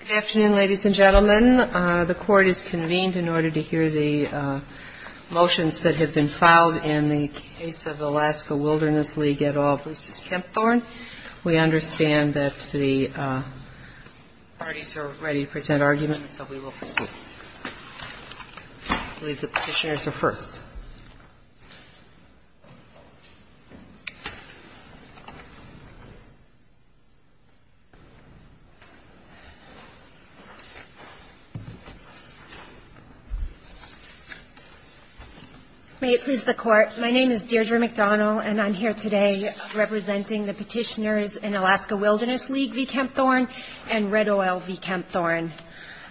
Good afternoon, ladies and gentlemen. The Court is convened in order to hear the motions that have been filed in the case of Alaska Wilderness League et al. Bruce's Kempthorne. We understand that the parties are ready to present arguments, so we will proceed. I believe the petitioners are first. Deirdre McDonald May it please the Court, my name is Deirdre McDonald and I'm here today representing the petitioners in Alaska Wilderness League v. Kempthorne and Red Oil v. Kempthorne.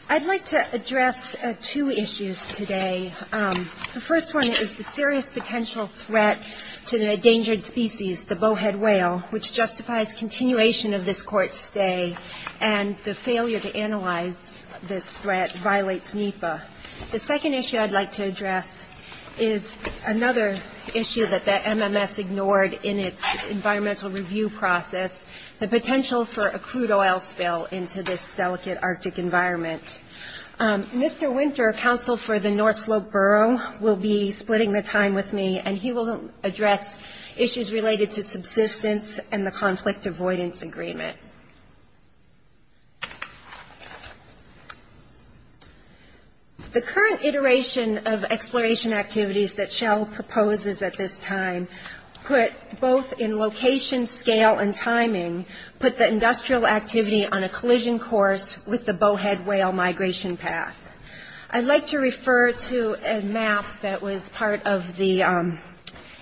I'd like to address two issues today. The first one is the serious potential threat to an endangered species, the bowhead whale, which justifies continuation of this Court's stay and the failure to analyze this threat violates NEPA. The second issue I'd like to address is another issue that the MMS ignored in its environmental review process, the potential for a crude oil spill into this delicate Arctic environment. Mr. Winter, counsel for the North Slope Borough, will be splitting the time with me and he will address issues related to subsistence and the conflict avoidance agreement. The current iteration of exploration activities that Shell proposes at this time put both in location, scale and timing, put the industrial activity on a collision course with the bowhead whale migration path. I'd like to refer to a map that was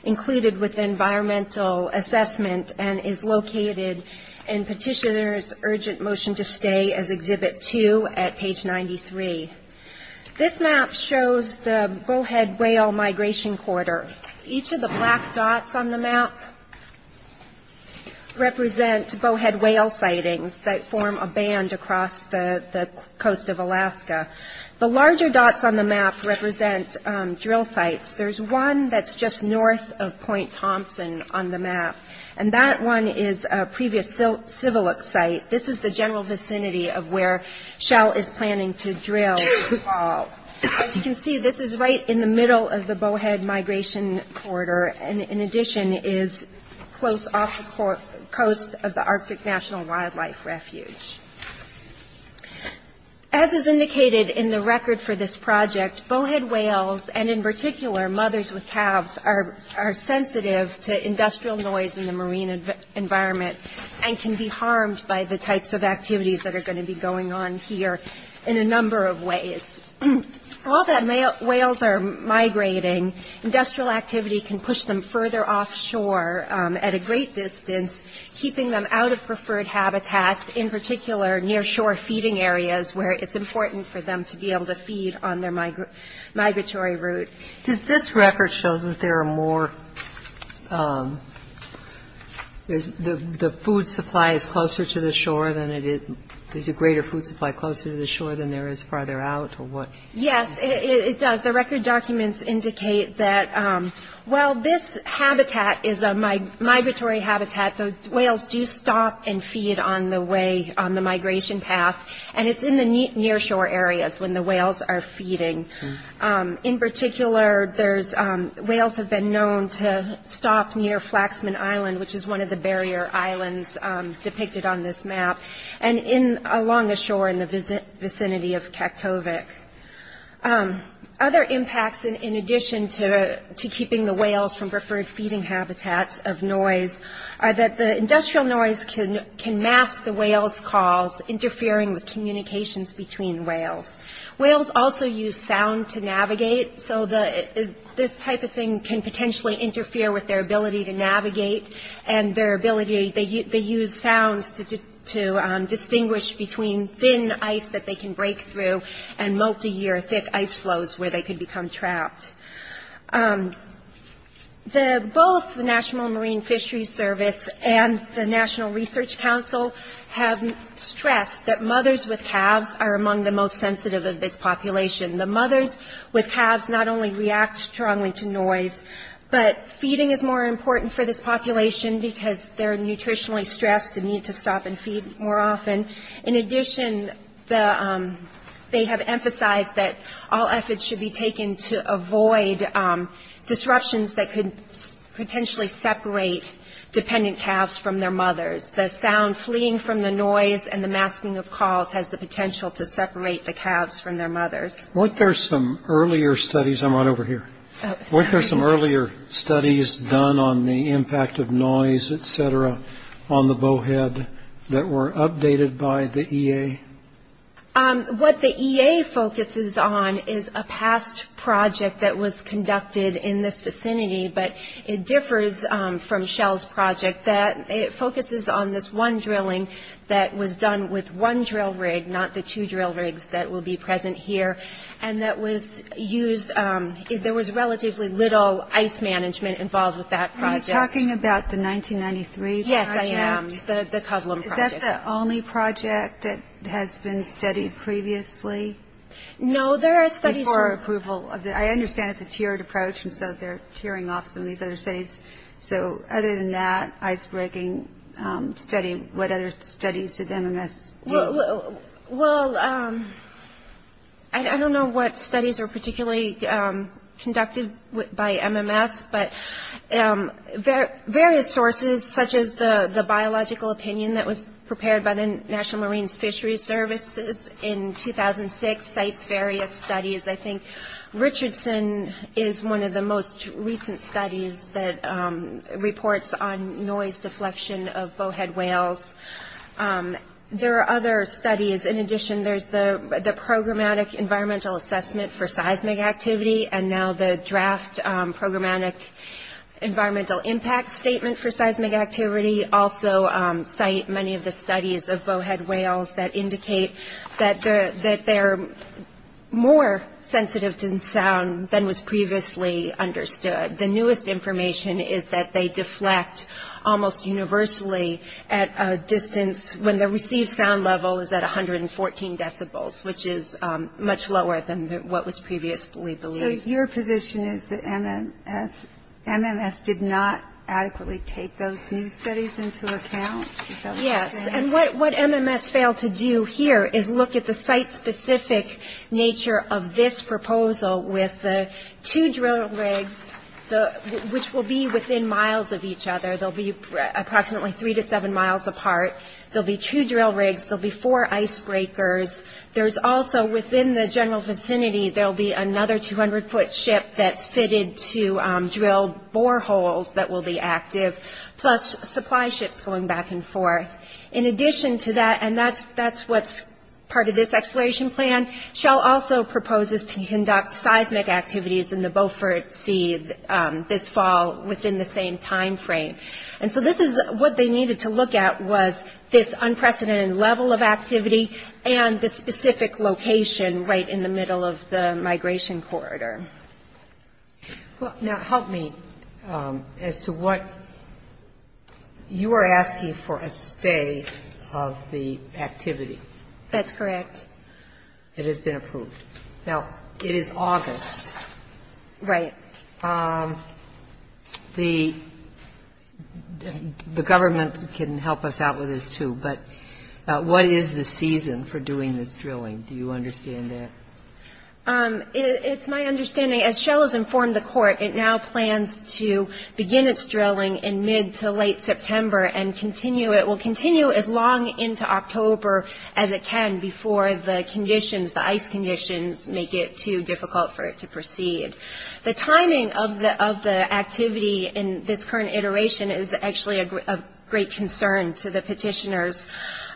included with the environmental assessment and is located in Petitioner's Urgent Motion to Stay as Exhibit 2 at page 93. This map shows the bowhead whale migration corridor. Each of the black dots on the map represent bowhead whale sightings that form a band across the coast of Alaska. The larger dots on the map represent drill sites. There's one that's just north of Point Thompson on the map and that one is a previous civil look site. This is the general vicinity of where Shell is planning to drill this fall. As you can see, this is right in the middle of the bowhead migration corridor and in addition is close off the coast of the Arctic National Wildlife Refuge. As is indicated in the record for this project, bowhead whales and in particular mothers with calves are sensitive to industrial noise in the marine environment and can be harmed by the types of activities that are going to be going on here in a number of ways. All that whales are migrating, industrial activity can push them further offshore at a great distance, keeping them out of preferred habitats, in particular near shore feeding areas where it's important for them to be able to feed on their migratory route. Does this record show that there are more, the food supply is closer to the shore, there's a greater food supply closer to the shore than there is farther out? Yes, it does. The record documents indicate that while this habitat is a migratory habitat, the whales do stop and feed on the way, on the migration path and it's in the near shore areas when the whales are feeding. In particular, whales have been known to stop near Flaxman Island, which is one of the barrier islands depicted on this map, and along the shore in the vicinity of Kaktovik. Other impacts in addition to keeping the whales from preferred feeding habitats of noise are that the industrial noise can mask the whales' calls, interfering with communications between whales. Whales also use sound to navigate, so this type of thing can potentially interfere with their ability to navigate and their ability, they use sounds to distinguish between thin ice that they can break through and multi-year thick ice flows where they can become trapped. Both the National Marine Fisheries Service and the National Research Council have stressed that mothers with calves are among the most sensitive of this population. The mothers with calves not only react strongly to noise, but feeding is more important for this population because they're nutritionally stressed and need to stop and feed more often. In addition, they have emphasized that all efforts should be taken to avoid disruptions that could potentially separate dependent calves from their mothers. The sound fleeing from the noise and the masking of calls has the potential to separate the calves from their mothers. Weren't there some earlier studies done on the impact of noise, etc., on the bowhead that were updated by the EA? What the EA focuses on is a past project that was conducted in this vicinity, but it differs from Shell's project. It focuses on this one drilling that was done with one drill rig, not the two drill rigs that will be present here, and that was used, there was relatively little ice management involved with that project. Are you talking about the 1993 project? Yes, I am. The Kovlum project. Is that the only project that has been studied previously? No, there are studies. Before approval. I understand it's a tiered approach, and so they're tiering off some of these other studies. So other than that icebreaking study, what other studies did MMS do? Well, I don't know what studies were particularly conducted by MMS, but various sources, such as the biological opinion that was prepared by the National Marines Fisheries Services in 2006, cites various studies. I think Richardson is one of the most recent studies that reports on noise deflection of bowhead whales. There are other studies. In addition, there's the Programmatic Environmental Assessment for Seismic Activity, and now the draft Programmatic Environmental Impact Statement for Seismic Activity, also cite many of the studies of bowhead whales that indicate that they're more sensitive to sound than was previously understood. The newest information is that they deflect almost universally at a distance when the received sound level is at 114 decibels, which is much lower than what was previously believed. So your position is that MMS did not adequately take those new studies into account? Yes, and what MMS failed to do here is look at the site-specific nature of this proposal with the two drill rigs, which will be within miles of each other. They'll be approximately three to seven miles apart. There'll be two drill rigs. There'll be four icebreakers. There's also, within the general vicinity, there'll be another 200-foot ship that's fitted to drill boreholes that will be active, plus supply ships going back and forth. In addition to that, and that's what's part of this exploration plan, Shell also proposes to conduct seismic activities in the Beaufort Sea this fall within the same timeframe. And so this is what they needed to look at was this unprecedented level of activity and the specific location right in the middle of the migration corridor. Now, help me as to what you are asking for a stay of the activity. That's correct. It has been approved. Now, it is August. Right. The government can help us out with this, too, but what is the season for doing this drilling? Do you understand that? It's my understanding, as Shell has informed the court, it now plans to begin its drilling in mid to late September and will continue as long into October as it can before the conditions, the ice conditions, make it too difficult for it to proceed. The timing of the activity in this current iteration is actually of great concern to the petitioners.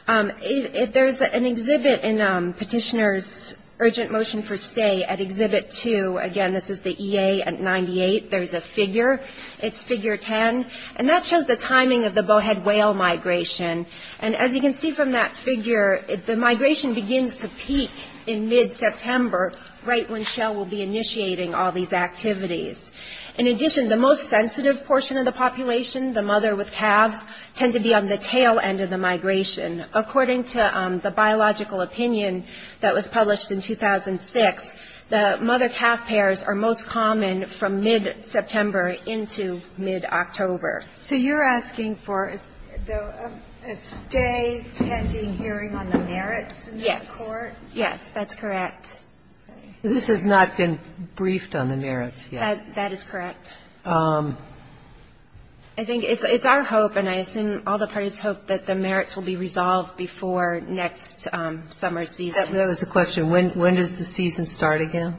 There's an exhibit in Petitioners' Urgent Motion for Stay at Exhibit 2. Again, this is the EA at 98. There's a figure. It's Figure 10, and that shows the timing of the bowhead whale migration. And as you can see from that figure, the migration begins to peak in mid-September, right when Shell will be initiating all these activities. In addition, the most sensitive portion of the population, the mother with calves, tend to be on the tail end of the migration. According to the biological opinion that was published in 2006, the mother-calf pairs are most common from mid-September into mid-October. So you're asking for a stay pending hearing on the merits in this court? Yes. Yes, that's correct. This has not been briefed on the merits yet. That is correct. I think it's our hope, and I assume all the parties hope, that the merits will be resolved before next summer season. That was the question. When does the season start again?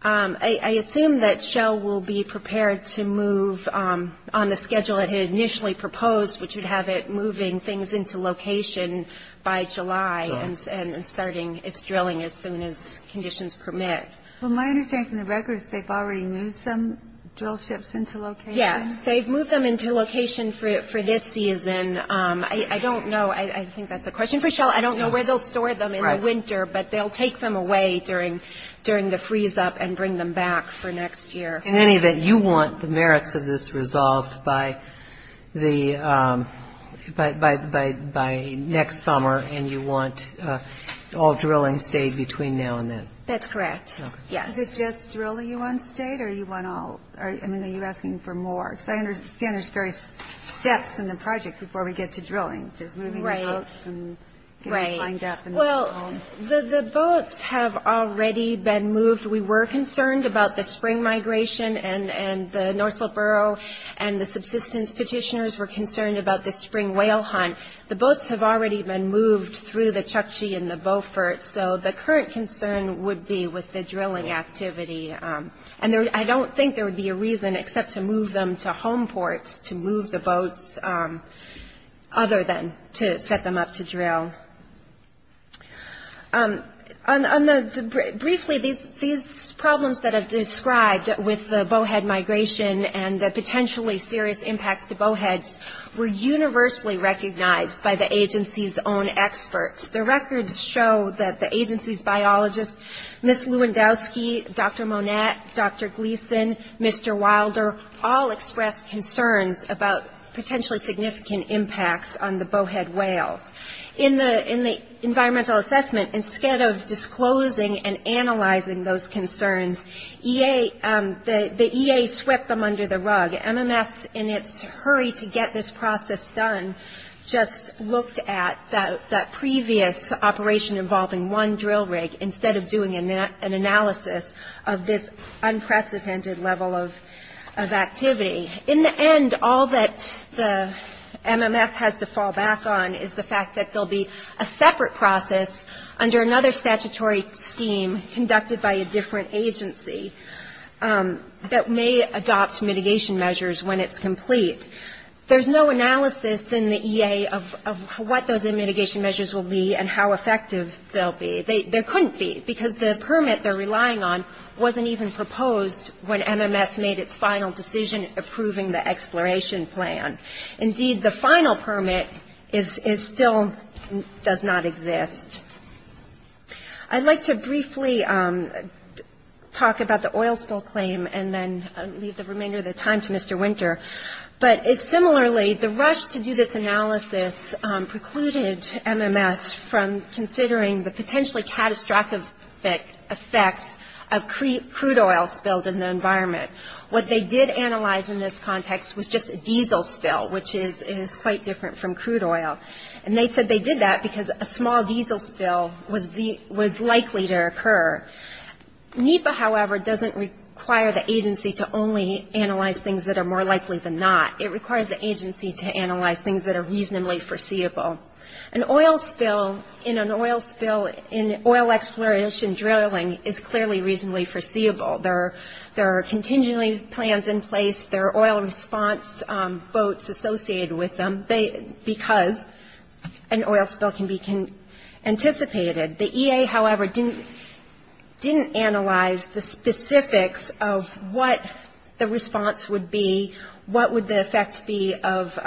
I assume that Shell will be prepared to move on the schedule it had initially proposed, which would have it moving things into location by July and starting its drilling as soon as conditions permit. Well, my understanding from the record is they've already moved some drill ships into location? Yes. They've moved them into location for this season. I don't know. I think that's a question for Shell. I don't know where they'll store them in the winter, but they'll take them away during the freeze-up and bring them back for next year. In any event, you want the merits of this resolved by the next summer, and you want all drilling stayed between now and then? That's correct. Yes. Is it just drilling you want stayed, or you want all? I mean, are you asking for more? Because I understand there's various steps in the project before we get to drilling, just moving the boats and getting lined up. Right. Well, the boats have already been moved. We were concerned about the spring migration, and the Norsell Borough and the subsistence petitioners were concerned about the spring whale hunt. The boats have already been moved through the Chukchi and the Beaufort, so the current concern would be with the drilling activity. And I don't think there would be a reason except to move them to home ports to move the boats other than to set them up to drill. Briefly, these problems that I've described with the bowhead migration and the potentially serious impacts to bowheads were universally recognized by the agency's own experts. The records show that the agency's biologists, Ms. Lewandowski, Dr. Monette, Dr. Gleason, Mr. Wilder, all expressed concerns about potentially significant impacts on the bowhead whales. In the environmental assessment, instead of disclosing and analyzing those concerns, the EA swept them under the rug. MMS, in its hurry to get this process done, just looked at that previous operation involving one drill rig instead of doing an analysis of this unprecedented level of activity. In the end, all that the MMS has to fall back on is the fact that there'll be a separate process under another statutory scheme conducted by a different agency that may adopt mitigation measures when it's complete. There's no analysis in the EA of what those mitigation measures will be and how effective they'll be. There couldn't be, because the permit they're relying on wasn't even proposed when MMS made its final decision approving the exploration plan. Indeed, the final permit still does not exist. I'd like to briefly talk about the oil spill claim and then leave the remainder of the time to Mr. Winter. But similarly, the rush to do this analysis precluded MMS from considering the potentially catastrophic effects of crude oil spilled in the environment. What they did analyze in this context was just a diesel spill, which is quite different from crude oil. And they said they did that because a small diesel spill was likely to occur. NEPA, however, doesn't require the agency to only analyze things that are more likely than not. It requires the agency to analyze things that are reasonably foreseeable. An oil spill in an oil spill in oil exploration drilling is clearly reasonably foreseeable. There are contingency plans in place. There are oil response boats associated with them because an oil spill can be anticipated. The EA, however, didn't analyze the specifics of what the response would be, what would the effect be of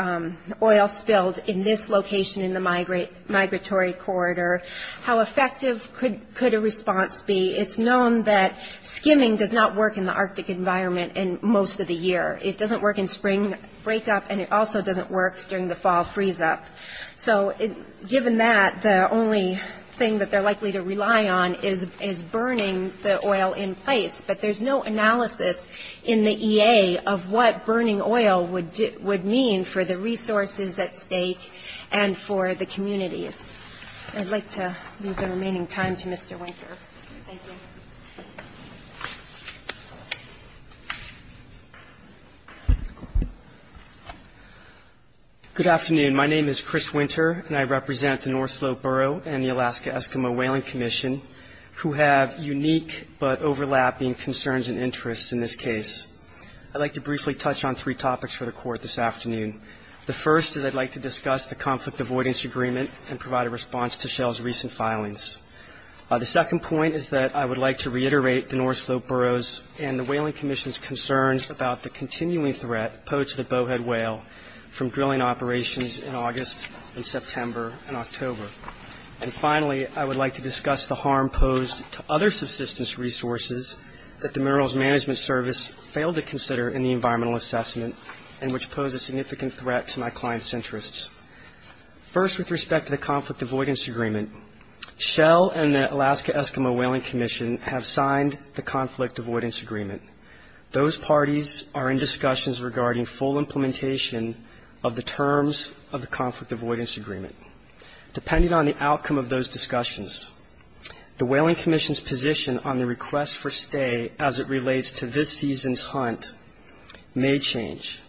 oil spilled in this location in the migratory corridor, how effective could a response be. It's known that skimming does not work in the Arctic environment most of the year. It doesn't work in spring breakup, and it also doesn't work during the fall freeze-up. So given that, the only thing that they're likely to rely on is burning the oil in place. But there's no analysis in the EA of what burning oil would mean for the resources at stake and for the communities. I'd like to leave the remaining time to Mr. Winker. Thank you. Good afternoon. My name is Chris Winter, and I represent the North Slope Borough and the Alaska Eskimo Whaling Commission, who have unique but overlapping concerns and interests in this case. I'd like to briefly touch on three topics for the Court this afternoon. The first is I'd like to discuss the conflict avoidance agreement and provide a response to Shell's recent filings. The second point is that I would like to reiterate the North Slope Borough's and the Whaling Commission's concerns about the continuing threat posed to the bowhead whale from drilling operations in August and September and October. And finally, I would like to discuss the harm posed to other subsistence resources that the Minerals Management Service failed to consider in the environmental assessment and which pose a significant threat to my clients' interests. First, with respect to the conflict avoidance agreement, Shell and the Alaska Eskimo Whaling Commission have signed the conflict avoidance agreement. Those parties are in discussions regarding full implementation of the terms of the conflict avoidance agreement. Depending on the outcome of those discussions, the Whaling Commission's position on the request for stay as it relates to this season's hunt may change.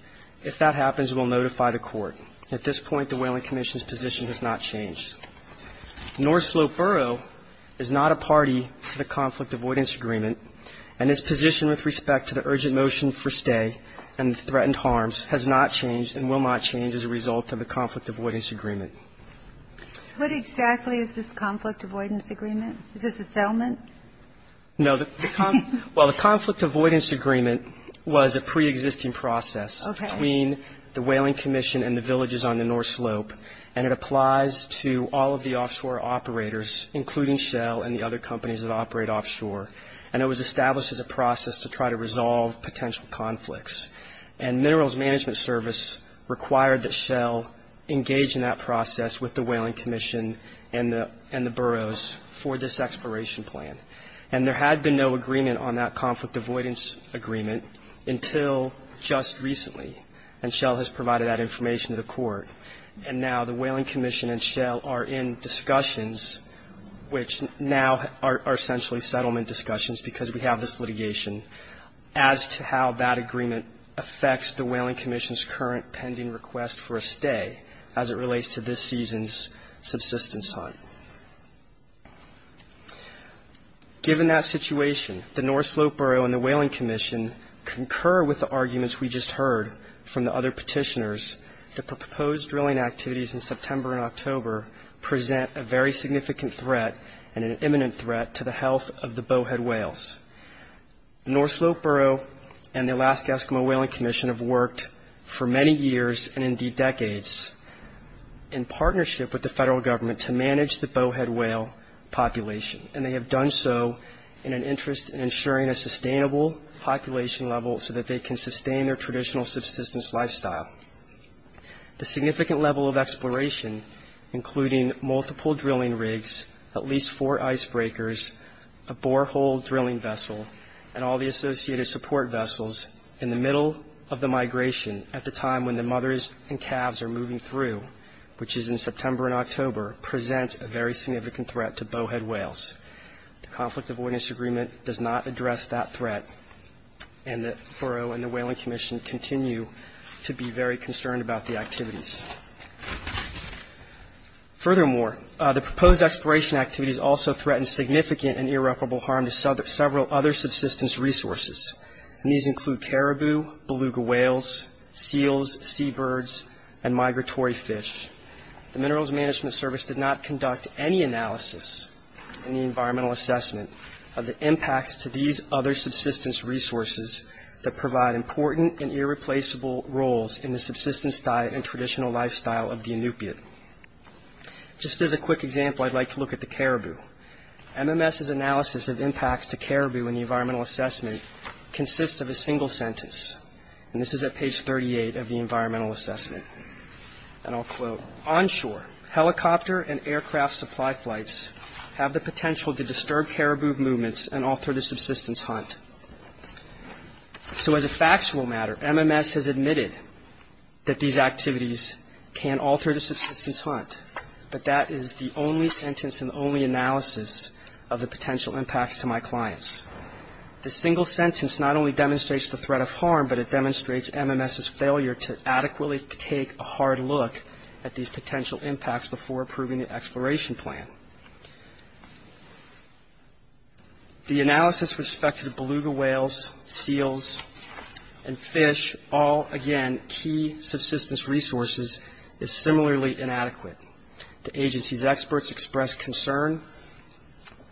If that happens, we'll notify the Court. At this point, the Whaling Commission's position has not changed. North Slope Borough is not a party to the conflict avoidance agreement, and its position with respect to the urgent motion for stay and the threatened harms has not changed and will not change as a result of the conflict avoidance agreement. What exactly is this conflict avoidance agreement? Is this a settlement? No. Well, the conflict avoidance agreement was a preexisting process between the Whaling Commission and the villages on the North Slope, and it applies to all of the offshore operators, including Shell and the other companies that operate offshore. And it was established as a process to try to resolve potential conflicts. And Minerals Management Service required that Shell engage in that process with the Whaling Commission and the boroughs for this exploration plan. And there had been no agreement on that conflict avoidance agreement until just recently, and now the Whaling Commission and Shell are in discussions, which now are essentially settlement discussions because we have this litigation, as to how that agreement affects the Whaling Commission's current pending request for a stay as it relates to this season's subsistence hunt. Given that situation, the North Slope Borough and the Whaling Commission concur with the arguments we just heard from the other petitioners. The proposed drilling activities in September and October present a very significant threat and an imminent threat to the health of the bowhead whales. The North Slope Borough and the Alaska Eskimo Whaling Commission have worked for many years, and indeed decades, in partnership with the federal government to manage the bowhead whale population, and they have done so in an interest in ensuring a sustainable population level so that they can sustain their traditional subsistence lifestyle. The significant level of exploration, including multiple drilling rigs, at least four icebreakers, a borehole drilling vessel, and all the associated support vessels in the middle of the migration at the time when the mothers and calves are moving through, which is in September and October, presents a very significant threat to bowhead whales. The Conflict Avoidance Agreement does not address that threat, and the Borough and the Whaling Commission continue to be very concerned about the activities. Furthermore, the proposed exploration activities also threaten significant and irreparable harm to several other subsistence resources, and these include caribou, beluga whales, seals, seabirds, and migratory fish. The Minerals Management Service did not conduct any analysis in the environmental assessment of the impacts to these other subsistence resources that provide important and irreplaceable roles in the subsistence diet and traditional lifestyle of the Inupiat. Just as a quick example, I'd like to look at the caribou. MMS's analysis of impacts to caribou in the environmental assessment consists of a single sentence, and this is at page 38 of the environmental assessment, and I'll quote, Onshore, helicopter and aircraft supply flights have the potential to disturb caribou movements and alter the subsistence hunt. So as a factual matter, MMS has admitted that these activities can alter the subsistence hunt, but that is the only sentence and the only analysis of the potential impacts to my clients. The single sentence not only demonstrates the threat of harm, but it demonstrates MMS's failure to adequately take a hard look at these potential impacts before approving the exploration plan. The analysis with respect to beluga whales, seals, and fish, all, again, key subsistence resources, is similarly inadequate. The agency's experts express concern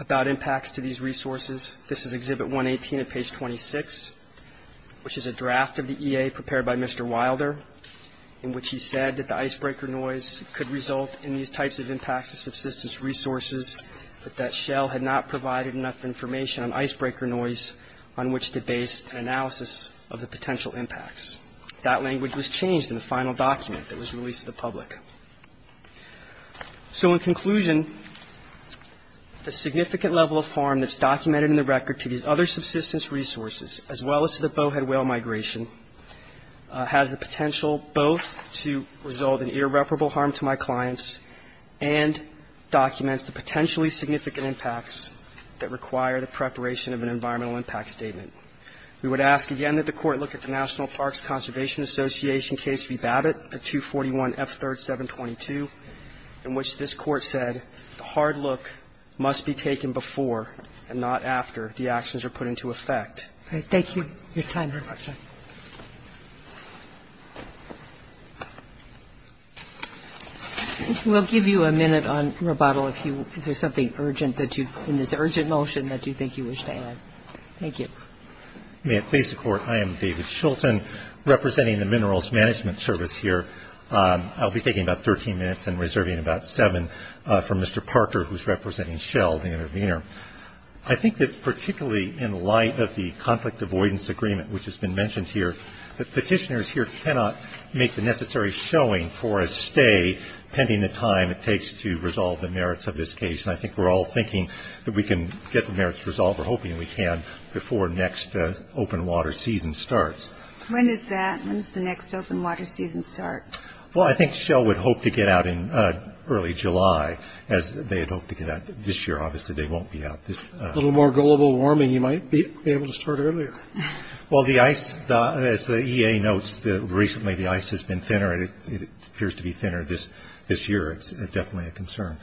about impacts to these resources. This is Exhibit 118 at page 26, which is a draft of the EA prepared by Mr. Wilder, in which he said that the icebreaker noise could result in these types of impacts to subsistence resources, but that Shell had not provided enough information on icebreaker noise on which to base an analysis of the potential impacts. That language was changed in the final document that was released to the public. So in conclusion, the significant level of harm that's documented in the record to these other subsistence resources, as well as to the bowhead whale migration, has the potential both to result in irreparable harm to my clients and documents the potentially significant impacts that require the preparation of an environmental impact statement. We would ask, again, that the Court look at the National Parks Conservation Association case v. Babbitt at 241F3-722, in which this Court said the hard look must be taken before and not after the actions are put into effect. Thank you. Your time has expired. We'll give you a minute on rebuttal if you – is there something urgent that you – in this urgent motion that you think you wish to add? Thank you. May it please the Court, I am David Shulton, representing the Minerals Management Service here. I'll be taking about 13 minutes and reserving about seven for Mr. Parker, who's representing Shell, the intervener. I think that particularly in light of the conflict avoidance agreement, which has been mentioned here, that petitioners here cannot make the necessary showing for a stay pending the time it takes to resolve the merits of this case. And I think we're all thinking that we can get the merits resolved. We're hoping we can before next open water season starts. When is that? When does the next open water season start? Well, I think Shell would hope to get out in early July, as they had hoped to get out this year. Obviously, they won't be out this – A little more global warming, you might be able to start earlier. Well, the ice – as the EA notes, recently the ice has been thinner, and it appears to be thinner this year. It's definitely a concern.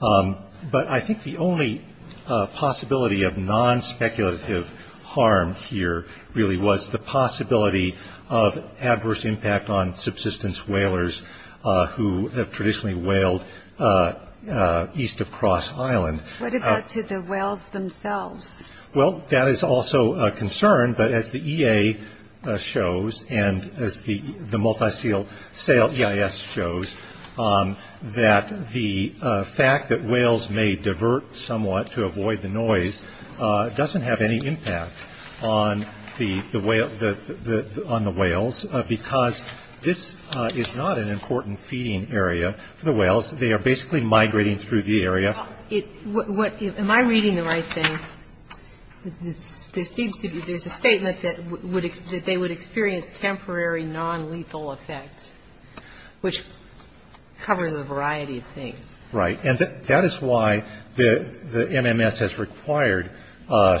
But I think the only possibility of non-speculative harm here really was the possibility of adverse impact on subsistence whalers who have traditionally whaled east of Cross Island. What about to the whales themselves? Well, that is also a concern. But as the EA shows, and as the multisale EIS shows, that the fact that whales may divert somewhat to avoid the noise doesn't have any impact on the whales, because this is not an important feeding area for the whales. They are basically migrating through the area. Am I reading the right thing? There seems to be – there's a statement that they would experience temporary non-lethal effects, which covers a variety of things. Right. And that is why the MMS has required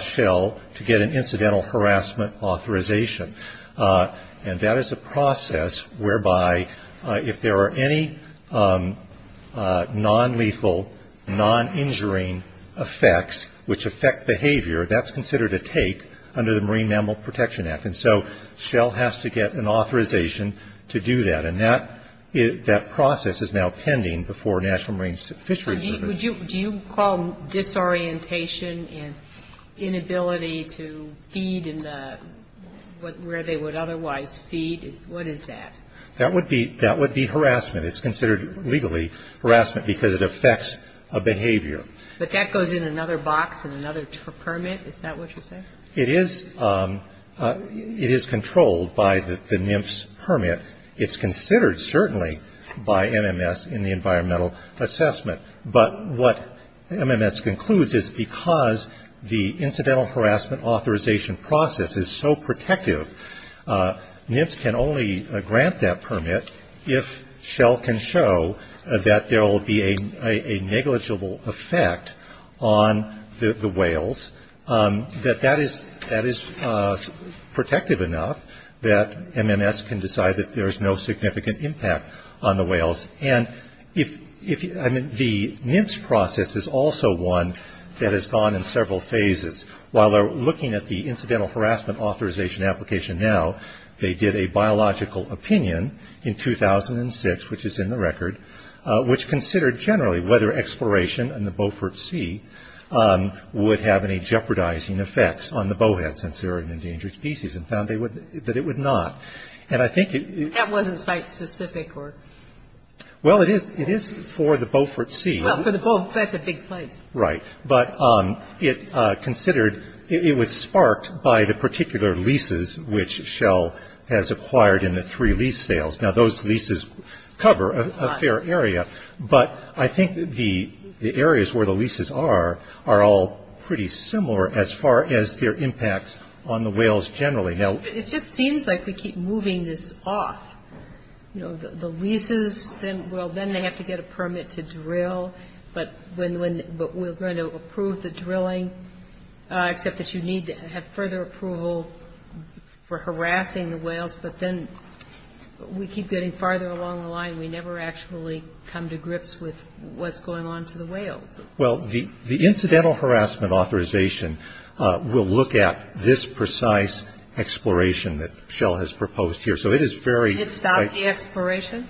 Shell to get an incidental harassment authorization. And that is a process whereby if there are any non-lethal, non-injuring effects which affect behavior, that's considered a take under the Marine Mammal Protection Act. And so Shell has to get an authorization to do that. And that process is now pending before National Marine Fisheries Service. So do you call disorientation and inability to feed in the – where they would otherwise feed? What is that? That would be harassment. It's considered, legally, harassment because it affects a behavior. But that goes in another box, in another permit. Is that what you're saying? It is controlled by the NIMS permit. It's considered, certainly, by MMS in the environmental assessment. But what MMS concludes is because the incidental harassment authorization process is so protective, NIMS can only grant that permit if Shell can show that there will be a negligible effect on the whales, that that is protective enough that MMS can decide that there is no significant impact on the whales. And if – I mean, the NIMS process is also one that has gone in several phases. While they're looking at the incidental harassment authorization application now, they did a biological opinion in 2006, which is in the record, which considered generally whether exploration in the Beaufort Sea would have any jeopardizing effects on the bowhead since they're an endangered species and found that it would not. And I think it – Well, it is for the Beaufort Sea. Well, for the – that's a big place. Right. But it considered – it was sparked by the particular leases which Shell has acquired in the three lease sales. Now, those leases cover a fair area. But I think the areas where the leases are are all pretty similar as far as their impact on the whales generally. It just seems like we keep moving this off. You know, the leases, well, then they have to get a permit to drill. But when – but we're going to approve the drilling, except that you need to have further approval for harassing the whales. But then we keep getting farther along the line. We never actually come to grips with what's going on to the whales. Well, the incidental harassment authorization will look at this precise exploration that Shell has proposed here. So it is very – It stopped the exploration?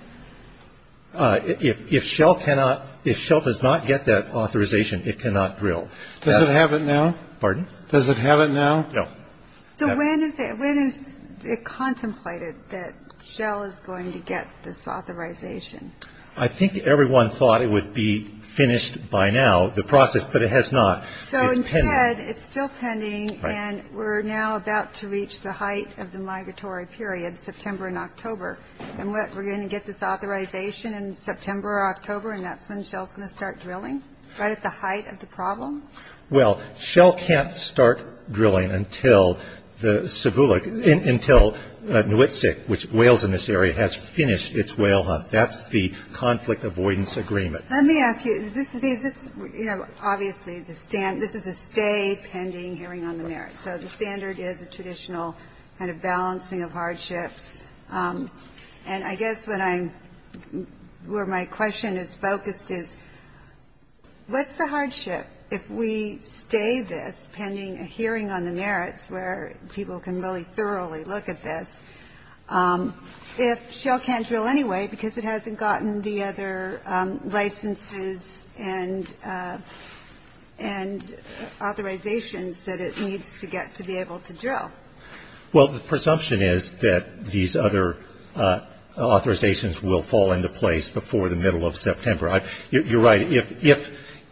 If Shell cannot – if Shell does not get that authorization, it cannot drill. Does it have it now? Pardon? Does it have it now? No. So when is it – when is it contemplated that Shell is going to get this authorization? I think everyone thought it would be finished by now, the process, but it has not. It's pending. So instead, it's still pending. Right. And we're now about to reach the height of the migratory period, September and October. And what, we're going to get this authorization in September or October, and that's when Shell's going to start drilling? Right at the height of the problem? Well, Shell can't start drilling until the – until Newitzik, which whales in this area, has finished its whale hunt. That's the conflict avoidance agreement. Let me ask you, this is a – you know, obviously, this is a stay pending hearing on the merits. So the standard is a traditional kind of balancing of hardships. And I guess what I'm – where my question is focused is, what's the hardship if we stay this pending a hearing on the merits, where people can really thoroughly look at this, if Shell can't drill anyway, because it hasn't gotten the other licenses and authorizations that it needs to get to be able to drill? Well, the presumption is that these other authorizations will fall into place before the middle of September. You're right. If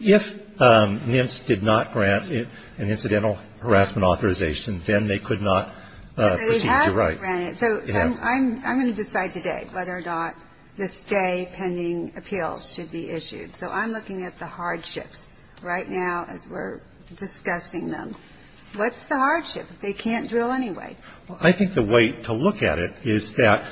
NIMS did not grant an incidental harassment authorization, then they could not proceed. But they haven't granted it. You're right. So I'm going to decide today whether or not the stay pending appeal should be issued. So I'm looking at the hardships right now as we're discussing them. What's the hardship if they can't drill anyway? Well, I think the way to look at it is that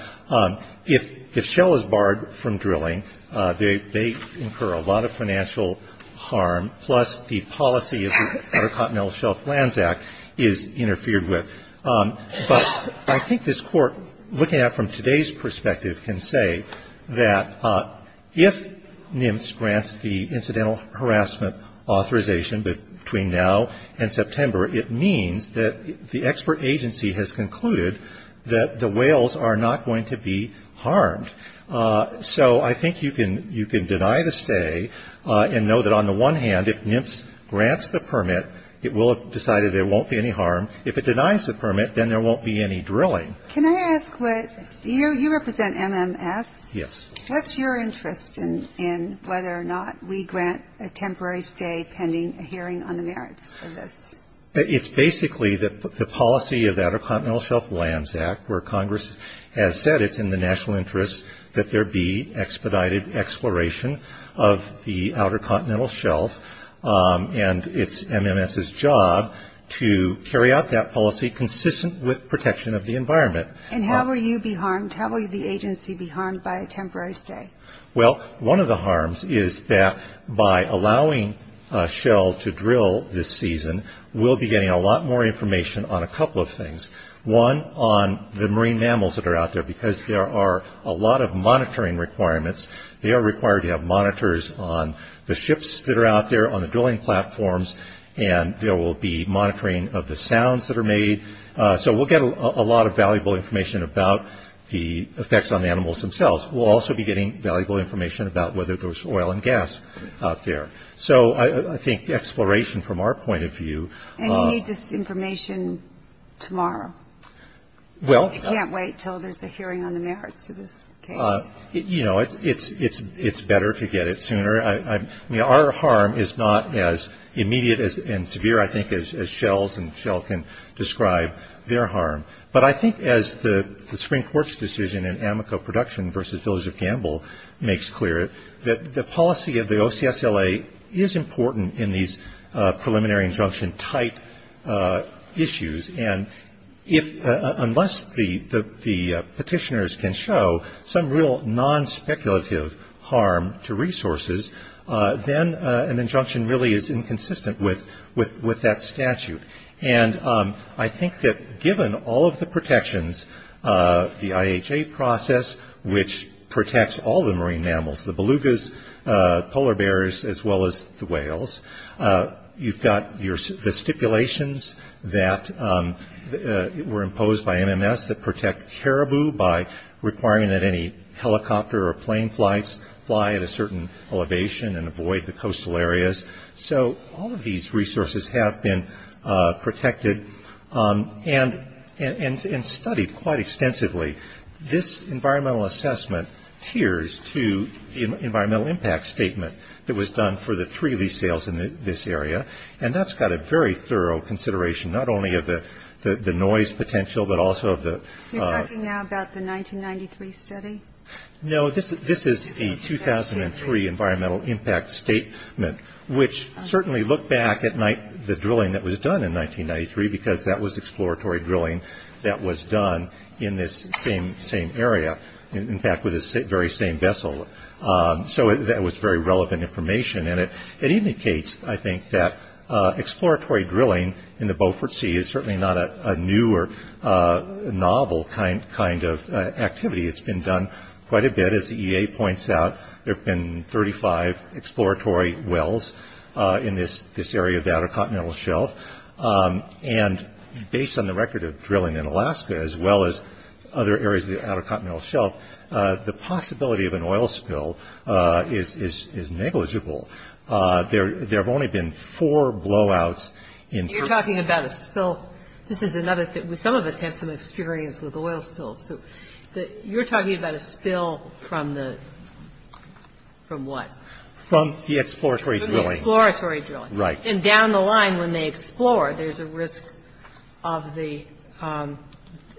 if Shell is barred from drilling, they incur a lot of financial harm, plus the policy of the Intercontinental Shelf Lands Act is interfered with. But I think this Court, looking at it from today's perspective, can say that if NIMS grants the incidental harassment authorization between now and September, it means that the expert agency has concluded that the whales are not going to be harmed. So I think you can deny the stay and know that on the one hand, if NIMS grants the permit, it will have decided there won't be any harm. If it denies the permit, then there won't be any drilling. Can I ask what you represent, MMS? Yes. What's your interest in whether or not we grant a temporary stay pending a hearing on the merits of this? It's basically the policy of the Intercontinental Shelf Lands Act where Congress has said it's in the national interest that there be expedited exploration of the Outer Continental Shelf, and it's MMS's job to carry out that policy consistent with protection of the environment. And how will you be harmed? How will the agency be harmed by a temporary stay? Well, one of the harms is that by allowing Shell to drill this season, we'll be getting a lot more information on a couple of things. One, on the marine mammals that are out there, because there are a lot of monitoring requirements. They are required to have monitors on the ships that are out there, on the drilling platforms, and there will be monitoring of the sounds that are made. So we'll get a lot of valuable information about the effects on the animals themselves. We'll also be getting valuable information about whether there's oil and gas out there. So I think exploration from our point of view. And you need this information tomorrow. Well. You can't wait until there's a hearing on the merits of this case. You know, it's better to get it sooner. I mean, our harm is not as immediate and severe, I think, as Shell's. And Shell can describe their harm. But I think as the Supreme Court's decision in Amoco Production versus Village of Gamble makes clear, that the policy of the OCSLA is important in these preliminary injunction type issues. And unless the petitioners can show some real non-speculative harm to resources, then an injunction really is inconsistent with that statute. And I think that given all of the protections, the IHA process, which protects all the marine mammals, the belugas, polar bears, as well as the whales, you've got the stipulations that were imposed by MMS that protect caribou by requiring that any helicopter or plane flights fly at a certain elevation and avoid the coastal areas. So all of these resources have been protected and studied quite extensively. This environmental assessment tiers to the environmental impact statement that was done for the three of these sales in this area. And that's got a very thorough consideration, not only of the noise potential, but also of the You're talking now about the 1993 study? No, this is a 2003 environmental impact statement, which certainly looked back at the drilling that was done in 1993 because that was exploratory drilling that was done in this same area, in fact, with this very same vessel. So that was very relevant information. And it indicates, I think, that exploratory drilling in the Beaufort Sea is certainly not a new or novel kind of activity. It's been done quite a bit. As the EA points out, there have been 35 exploratory wells in this area of the Outer Continental Shelf. And based on the record of drilling in Alaska, as well as other areas of the Outer Continental Shelf, the possibility of an oil spill is negligible. There have only been four blowouts. You're talking about a spill. This is another thing. Some of us have some experience with oil spills, too. You're talking about a spill from the, from what? From the exploratory drilling. From the exploratory drilling. Right. And down the line when they explore, there's a risk of the,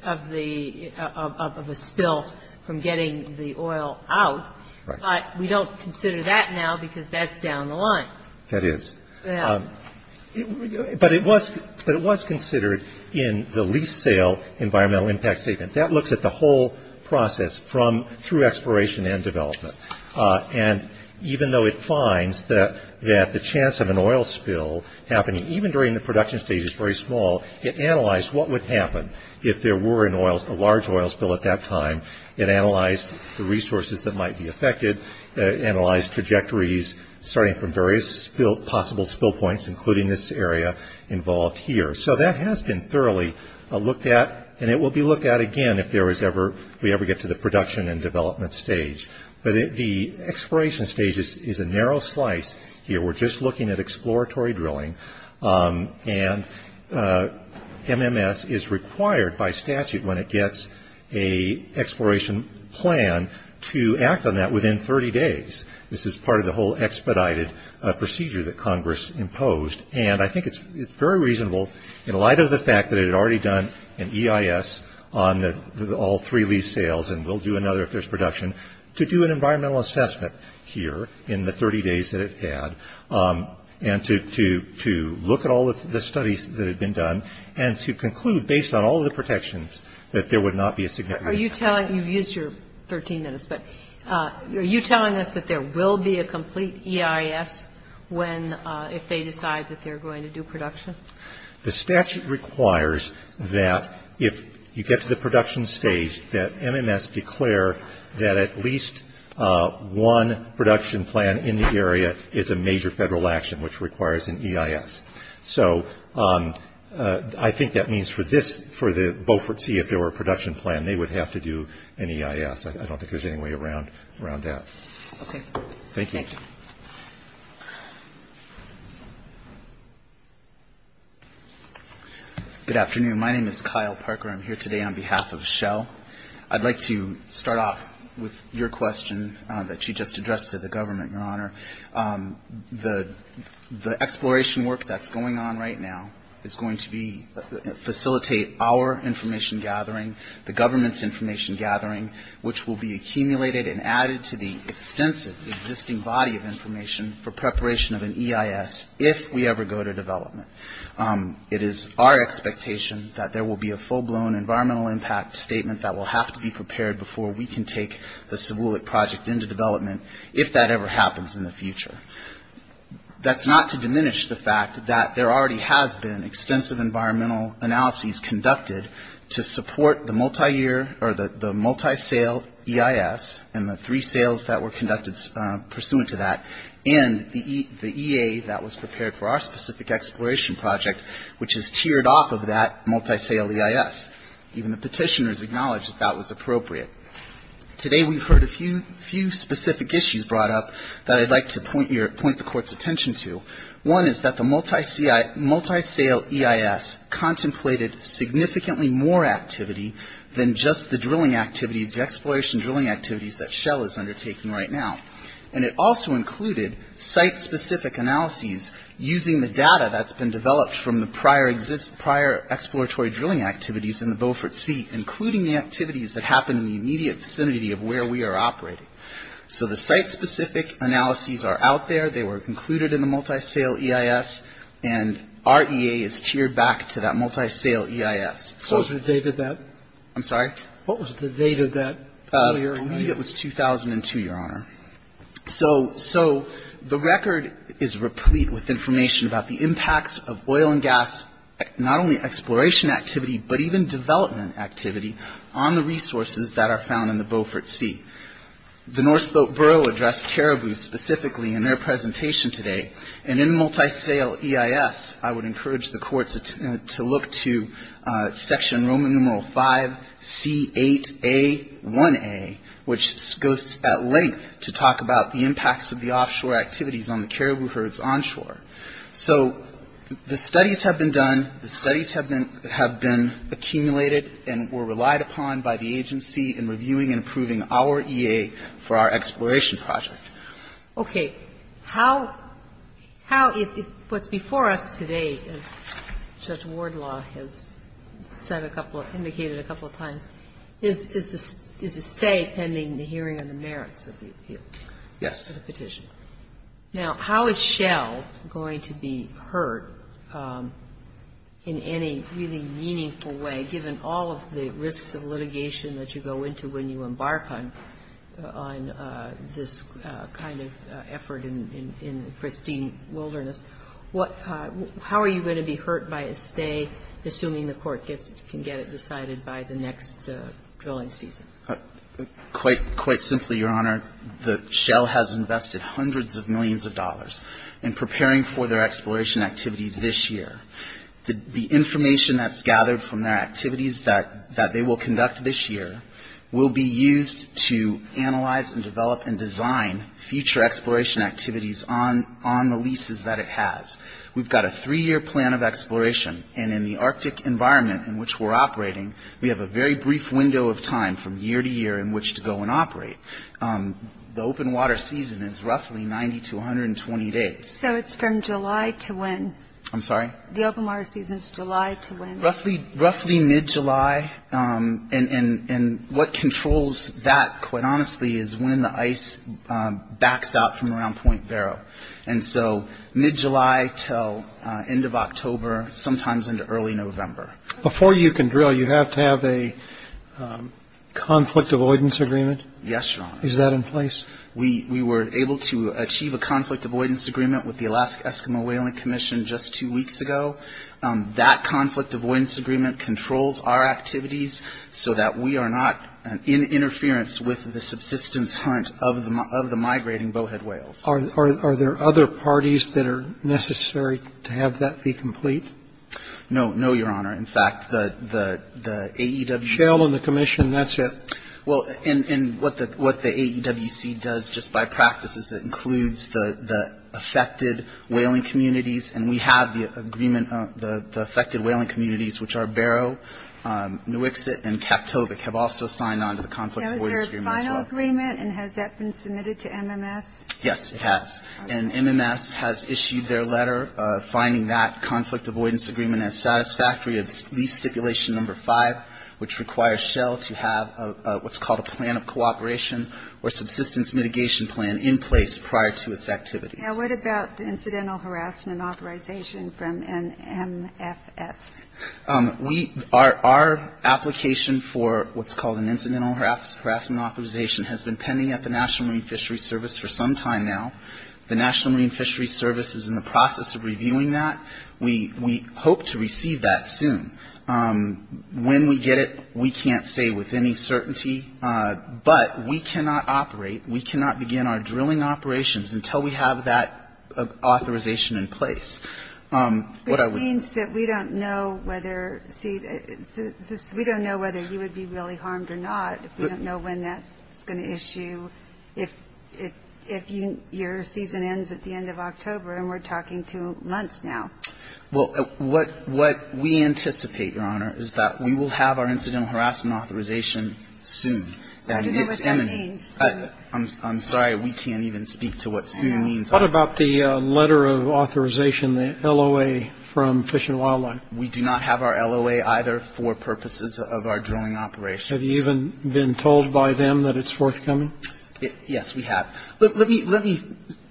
of the, of a spill from getting the oil out. Right. But we don't consider that now because that's down the line. That is. Yeah. But it was, but it was considered in the lease sale environmental impact statement. That looks at the whole process from, through exploration and development. And even though it finds that the chance of an oil spill happening even during the production stage is very small, it analyzed what would happen if there were an oil, a large oil spill at that time. It analyzed the resources that might be affected, analyzed trajectories starting from various possible spill points, including this area involved here. So that has been thoroughly looked at. And it will be looked at again if there is ever, we ever get to the production and development stage. But the exploration stage is a narrow slice here. We're just looking at exploratory drilling. And MMS is required by statute when it gets a exploration plan to act on that within 30 days. This is part of the whole expedited procedure that Congress imposed. And I think it's very reasonable in light of the fact that it had already done an EIS on all three lease sales, and will do another if there's production, to do an environmental assessment here in the 30 days that it had and to look at all of the studies that have been done and to conclude based on all of the protections that there would not be a significant impact. Are you telling, you've used your 13 minutes, but are you telling us that there will be a complete EIS when, if they decide that they're going to do production? The statute requires that if you get to the production stage, that MMS declare that at least one production plan in the area is a major Federal action, which requires an EIS. So I think that means for this, for the Beaufort Sea, if there were a production plan, they would have to do an EIS. I don't think there's any way around that. Okay. Thank you. Thank you. Good afternoon. My name is Kyle Parker. I'm here today on behalf of Shell. I'd like to start off with your question that you just addressed to the government, Your Honor. The exploration work that's going on right now is going to facilitate our information gathering, the government's information gathering, which will be accumulated and added to the extensive existing body of information for preparation of an EIS, if we ever go to development. It is our expectation that there will be a full-blown environmental impact statement that will have to be prepared before we can take the Sewoolik project into development, if that ever happens in the future. That's not to diminish the fact that there already has been extensive environmental analyses conducted to support the multiyear or the multi-sale EIS and the three sales that were conducted pursuant to that and the EA that was prepared for our specific exploration project, which is tiered off of that multi-sale EIS. Even the Petitioners acknowledged that that was appropriate. Today we've heard a few specific issues brought up that I'd like to point the Court's attention to. One is that the multi-sale EIS contemplated significantly more activity than just the drilling activities, the exploration drilling activities that Shell is undertaking right now. And it also included site-specific analyses using the data that's been developed from the prior exploratory drilling activities in the Beaufort Sea, including the activities that happened in the immediate vicinity of where we are operating. So the site-specific analyses are out there. They were included in the multi-sale EIS. And our EA is tiered back to that multi-sale EIS. So the record is replete with information about the impacts of oil and gas, not only exploration activity, but even development activity on the resources that are found in the Beaufort Sea. The North Slope Borough addressed caribou specifically in their presentation today. And in multi-sale EIS, I would encourage the Court to look to section Roman numeral 5C8A1A, which goes at length to talk about the impacts of the offshore activities on the caribou herds onshore. So the studies have been done. The studies have been accumulated and were relied upon by the agency in reviewing and approving our EA for our exploration project. Okay. How – how – what's before us today, as Judge Wardlaw has said a couple – indicated a couple of times, is the stay pending the hearing on the merits of the appeal. Of the petition. Now, how is Shell going to be hurt in any really meaningful way, given all of the risks of litigation that you go into when you embark on – on this kind of effort in – in pristine wilderness? What – how are you going to be hurt by a stay, assuming the Court gets – can get it decided by the next drilling season? Quite – quite simply, Your Honor, the – Shell has invested hundreds of millions of dollars in preparing for their exploration activities this year. The – the information that's gathered from their activities that – that they will conduct this year will be used to analyze and develop and design future exploration activities on – on the leases that it has. We've got a three-year plan of exploration, and in the Arctic environment in which we're operating, we have a very brief window of time from year to year in which to go and operate. The open water season is roughly 90 to 120 days. So it's from July to when? I'm sorry? The open water season is July to when? Roughly – roughly mid-July, and – and what controls that, quite honestly, is when the ice backs out from around Point Vero. And so mid-July till end of October, sometimes into early November. Before you can drill, you have to have a conflict avoidance agreement? Yes, Your Honor. Is that in place? We – we were able to achieve a conflict avoidance agreement with the Alaska Eskimo Whaling Commission just two weeks ago. That conflict avoidance agreement controls our activities so that we are not in interference with the subsistence hunt of the – of the migrating bowhead whales. Are – are there other parties that are necessary to have that be complete? No. No, Your Honor. In fact, the – the AEWC – Shell and the Commission. That's it. Well, and – and what the – what the AEWC does just by practice is it includes the – the affected whaling communities. And we have the agreement – the affected whaling communities, which are Barrow, Nuiqsut, and Captovic, have also signed on to the conflict avoidance agreement as well. Now, is there a final agreement, and has that been submitted to MMS? Yes, it has. And MMS has issued their letter finding that conflict avoidance agreement as satisfactory of lease stipulation number five, which requires Shell to have a – what's called a plan of cooperation or subsistence mitigation plan in place prior to its activities. Now, what about the incidental harassment authorization from an MFS? We – our – our application for what's called an incidental harassment authorization has been pending at the National Marine Fisheries Service for some time now. The National Marine Fisheries Service is in the process of reviewing that. We – we hope to receive that soon. When we get it, we can't say with any certainty. But we cannot operate, we cannot begin our drilling operations until we have that authorization in place. Which means that we don't know whether – see, this – we don't know whether you would be really harmed or not. We don't know when that's going to issue, if – if you – your season ends at the end of October, and we're talking two months now. Well, what – what we anticipate, Your Honor, is that we will have our incidental harassment authorization soon. I don't know what that means. I'm sorry. We can't even speak to what soon means. What about the letter of authorization, the LOA from Fish and Wildlife? We do not have our LOA either for purposes of our drilling operations. Have you even been told by them that it's forthcoming? Yes, we have. Let me – let me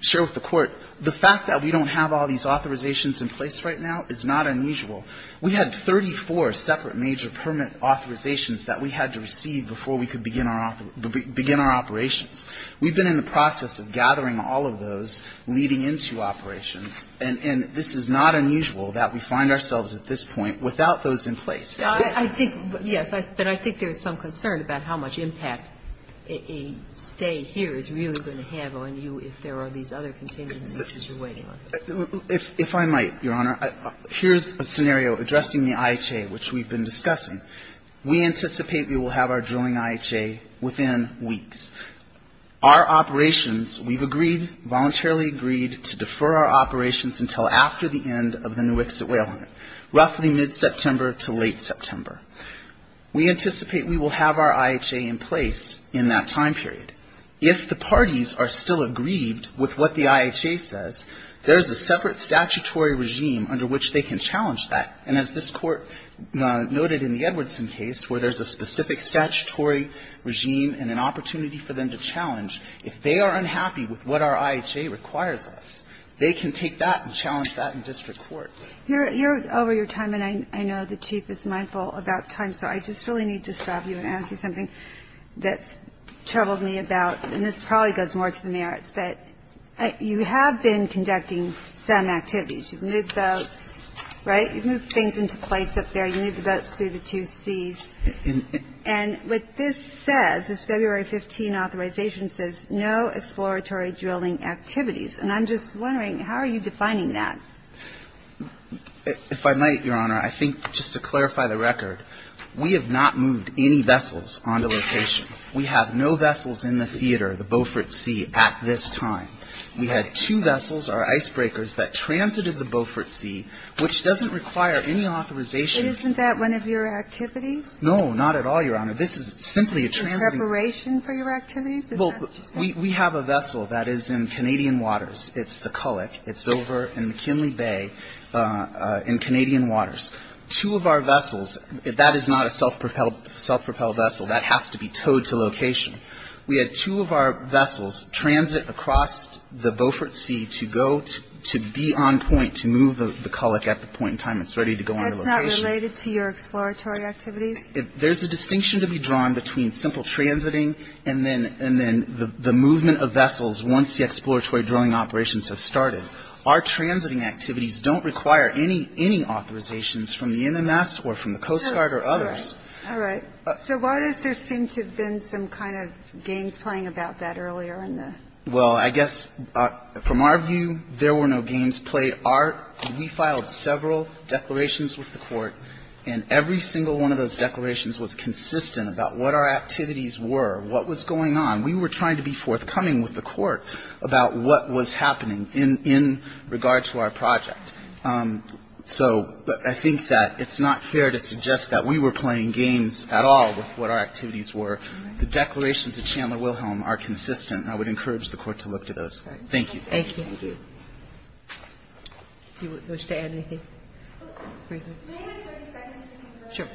share with the Court. The fact that we don't have all these authorizations in place right now is not unusual. We had 34 separate major permit authorizations that we had to receive before we could begin our – begin our operations. We've been in the process of gathering all of those leading into operations. And this is not unusual that we find ourselves at this point without those in place. I think – yes, but I think there's some concern about how much impact a stay here is really going to have on you if there are these other contingencies that you're waiting on. If I might, Your Honor, here's a scenario addressing the IHA, which we've been discussing. We anticipate we will have our drilling IHA within weeks. Our operations, we've agreed, voluntarily agreed to defer our operations until after the end of the new exit way element, roughly mid-September to late September. We anticipate we will have our IHA in place in that time period. If the parties are still aggrieved with what the IHA says, there's a separate statutory regime under which they can challenge that. And as this Court noted in the Edwardson case where there's a specific statutory regime and an opportunity for them to challenge, if they are unhappy with what our IHA requires us, they can take that and challenge that in district court. You're over your time, and I know the Chief is mindful about time, so I just really need to stop you and ask you something that's troubled me about – and this probably goes more to the merits, but you have been conducting some activities. You've moved boats, right? You've moved things into place up there. You moved the boats through the two seas. And what this says, this February 15 authorization says no exploratory drilling activities. And I'm just wondering, how are you defining that? If I might, Your Honor, I think just to clarify the record, we have not moved any vessels onto location. We have no vessels in the theater, the Beaufort Sea, at this time. We had two vessels, our icebreakers, that transited the Beaufort Sea, which doesn't require any authorization. And isn't that one of your activities? No, not at all, Your Honor. This is simply a transit. Preparation for your activities? Well, we have a vessel that is in Canadian waters. It's the Culloch. It's over in McKinley Bay in Canadian waters. Two of our vessels, that is not a self-propelled vessel. That has to be towed to location. We had two of our vessels transit across the Beaufort Sea to go to be on point to move the Culloch at the point in time it's ready to go onto location. So it's not related to your exploratory activities? There's a distinction to be drawn between simple transiting and then the movement of vessels once the exploratory drilling operations have started. Our transiting activities don't require any authorizations from the MMS or from the Coast Guard or others. All right. So why does there seem to have been some kind of games playing about that earlier in the ---- Well, I guess from our view, there were no games played. We filed several declarations with the Court, and every single one of those declarations was consistent about what our activities were, what was going on. We were trying to be forthcoming with the Court about what was happening in regard to our project. So I think that it's not fair to suggest that we were playing games at all with what our activities were. The declarations of Chandler Wilhelm are consistent. I would encourage the Court to look to those. Thank you. Thank you. Do you wish to add anything? May I have 30 seconds to confirm this? Sure.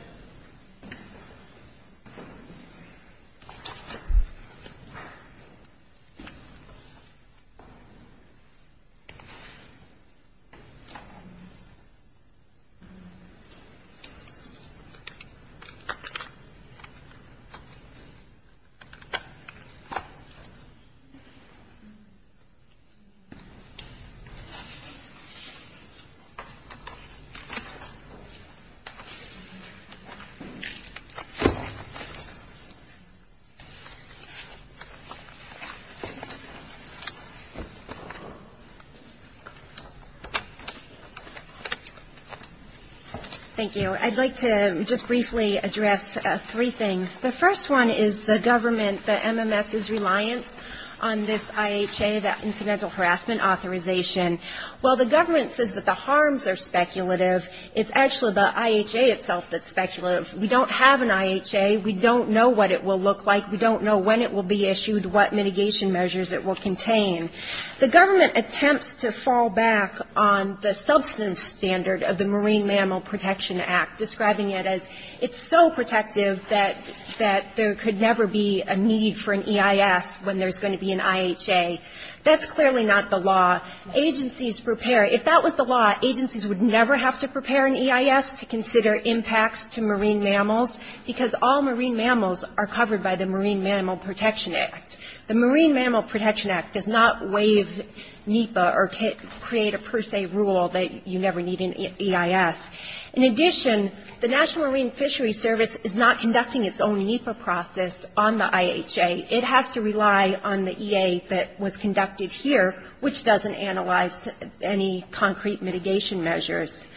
Thank you. I'd like to just briefly address three things. The first one is the government, the MMS's reliance on this IHA, that incidental authorization. While the government says that the harms are speculative, it's actually the IHA itself that's speculative. We don't have an IHA. We don't know what it will look like. We don't know when it will be issued, what mitigation measures it will contain. The government attempts to fall back on the substantive standard of the Marine Mammal Protection Act, describing it as it's so protective that there could never be a need for an EIS when there's going to be an IHA. That's clearly not the law. Agencies prepare. If that was the law, agencies would never have to prepare an EIS to consider impacts to marine mammals, because all marine mammals are covered by the Marine Mammal Protection Act. The Marine Mammal Protection Act does not waive NEPA or create a per se rule that you never need an EIS. In addition, the National Marine Fisheries Service is not conducting its own NEPA process on the IHA. It has to rely on the EA that was conducted here, which doesn't analyze any concrete mitigation measures.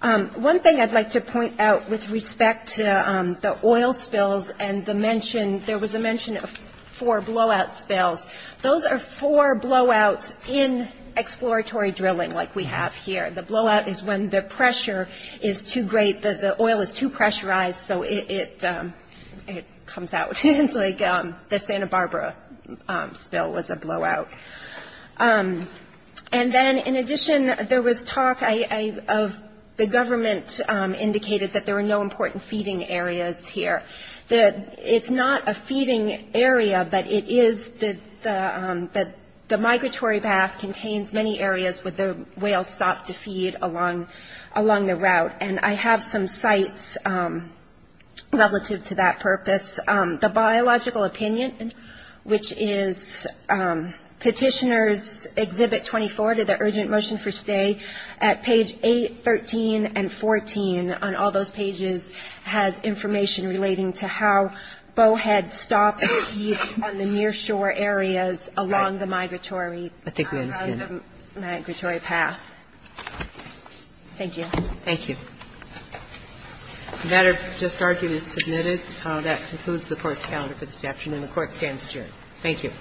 One thing I'd like to point out with respect to the oil spills and the mention, there was a mention of four blowout spills. Those are four blowouts in exploratory drilling like we have here. The blowout is when the pressure is too great, the oil is too pressurized, so it comes out like the Santa Barbara spill was a blowout. And then, in addition, there was talk of the government indicated that there were no important feeding areas here. It's not a feeding area, but it is the migratory bath contains many areas where the whales stop to feed along the route. And I have some sites relative to that purpose. The biological opinion, which is Petitioner's Exhibit 24, the urgent motion for stay, at page 8, 13, and 14, on all those pages, has information relating to how bowheads stop to feed on the near shore areas along the migratory path. Thank you. Thank you. The matter just argued is submitted. That concludes the Court's calendar for this afternoon. The Court stands adjourned. Thank you.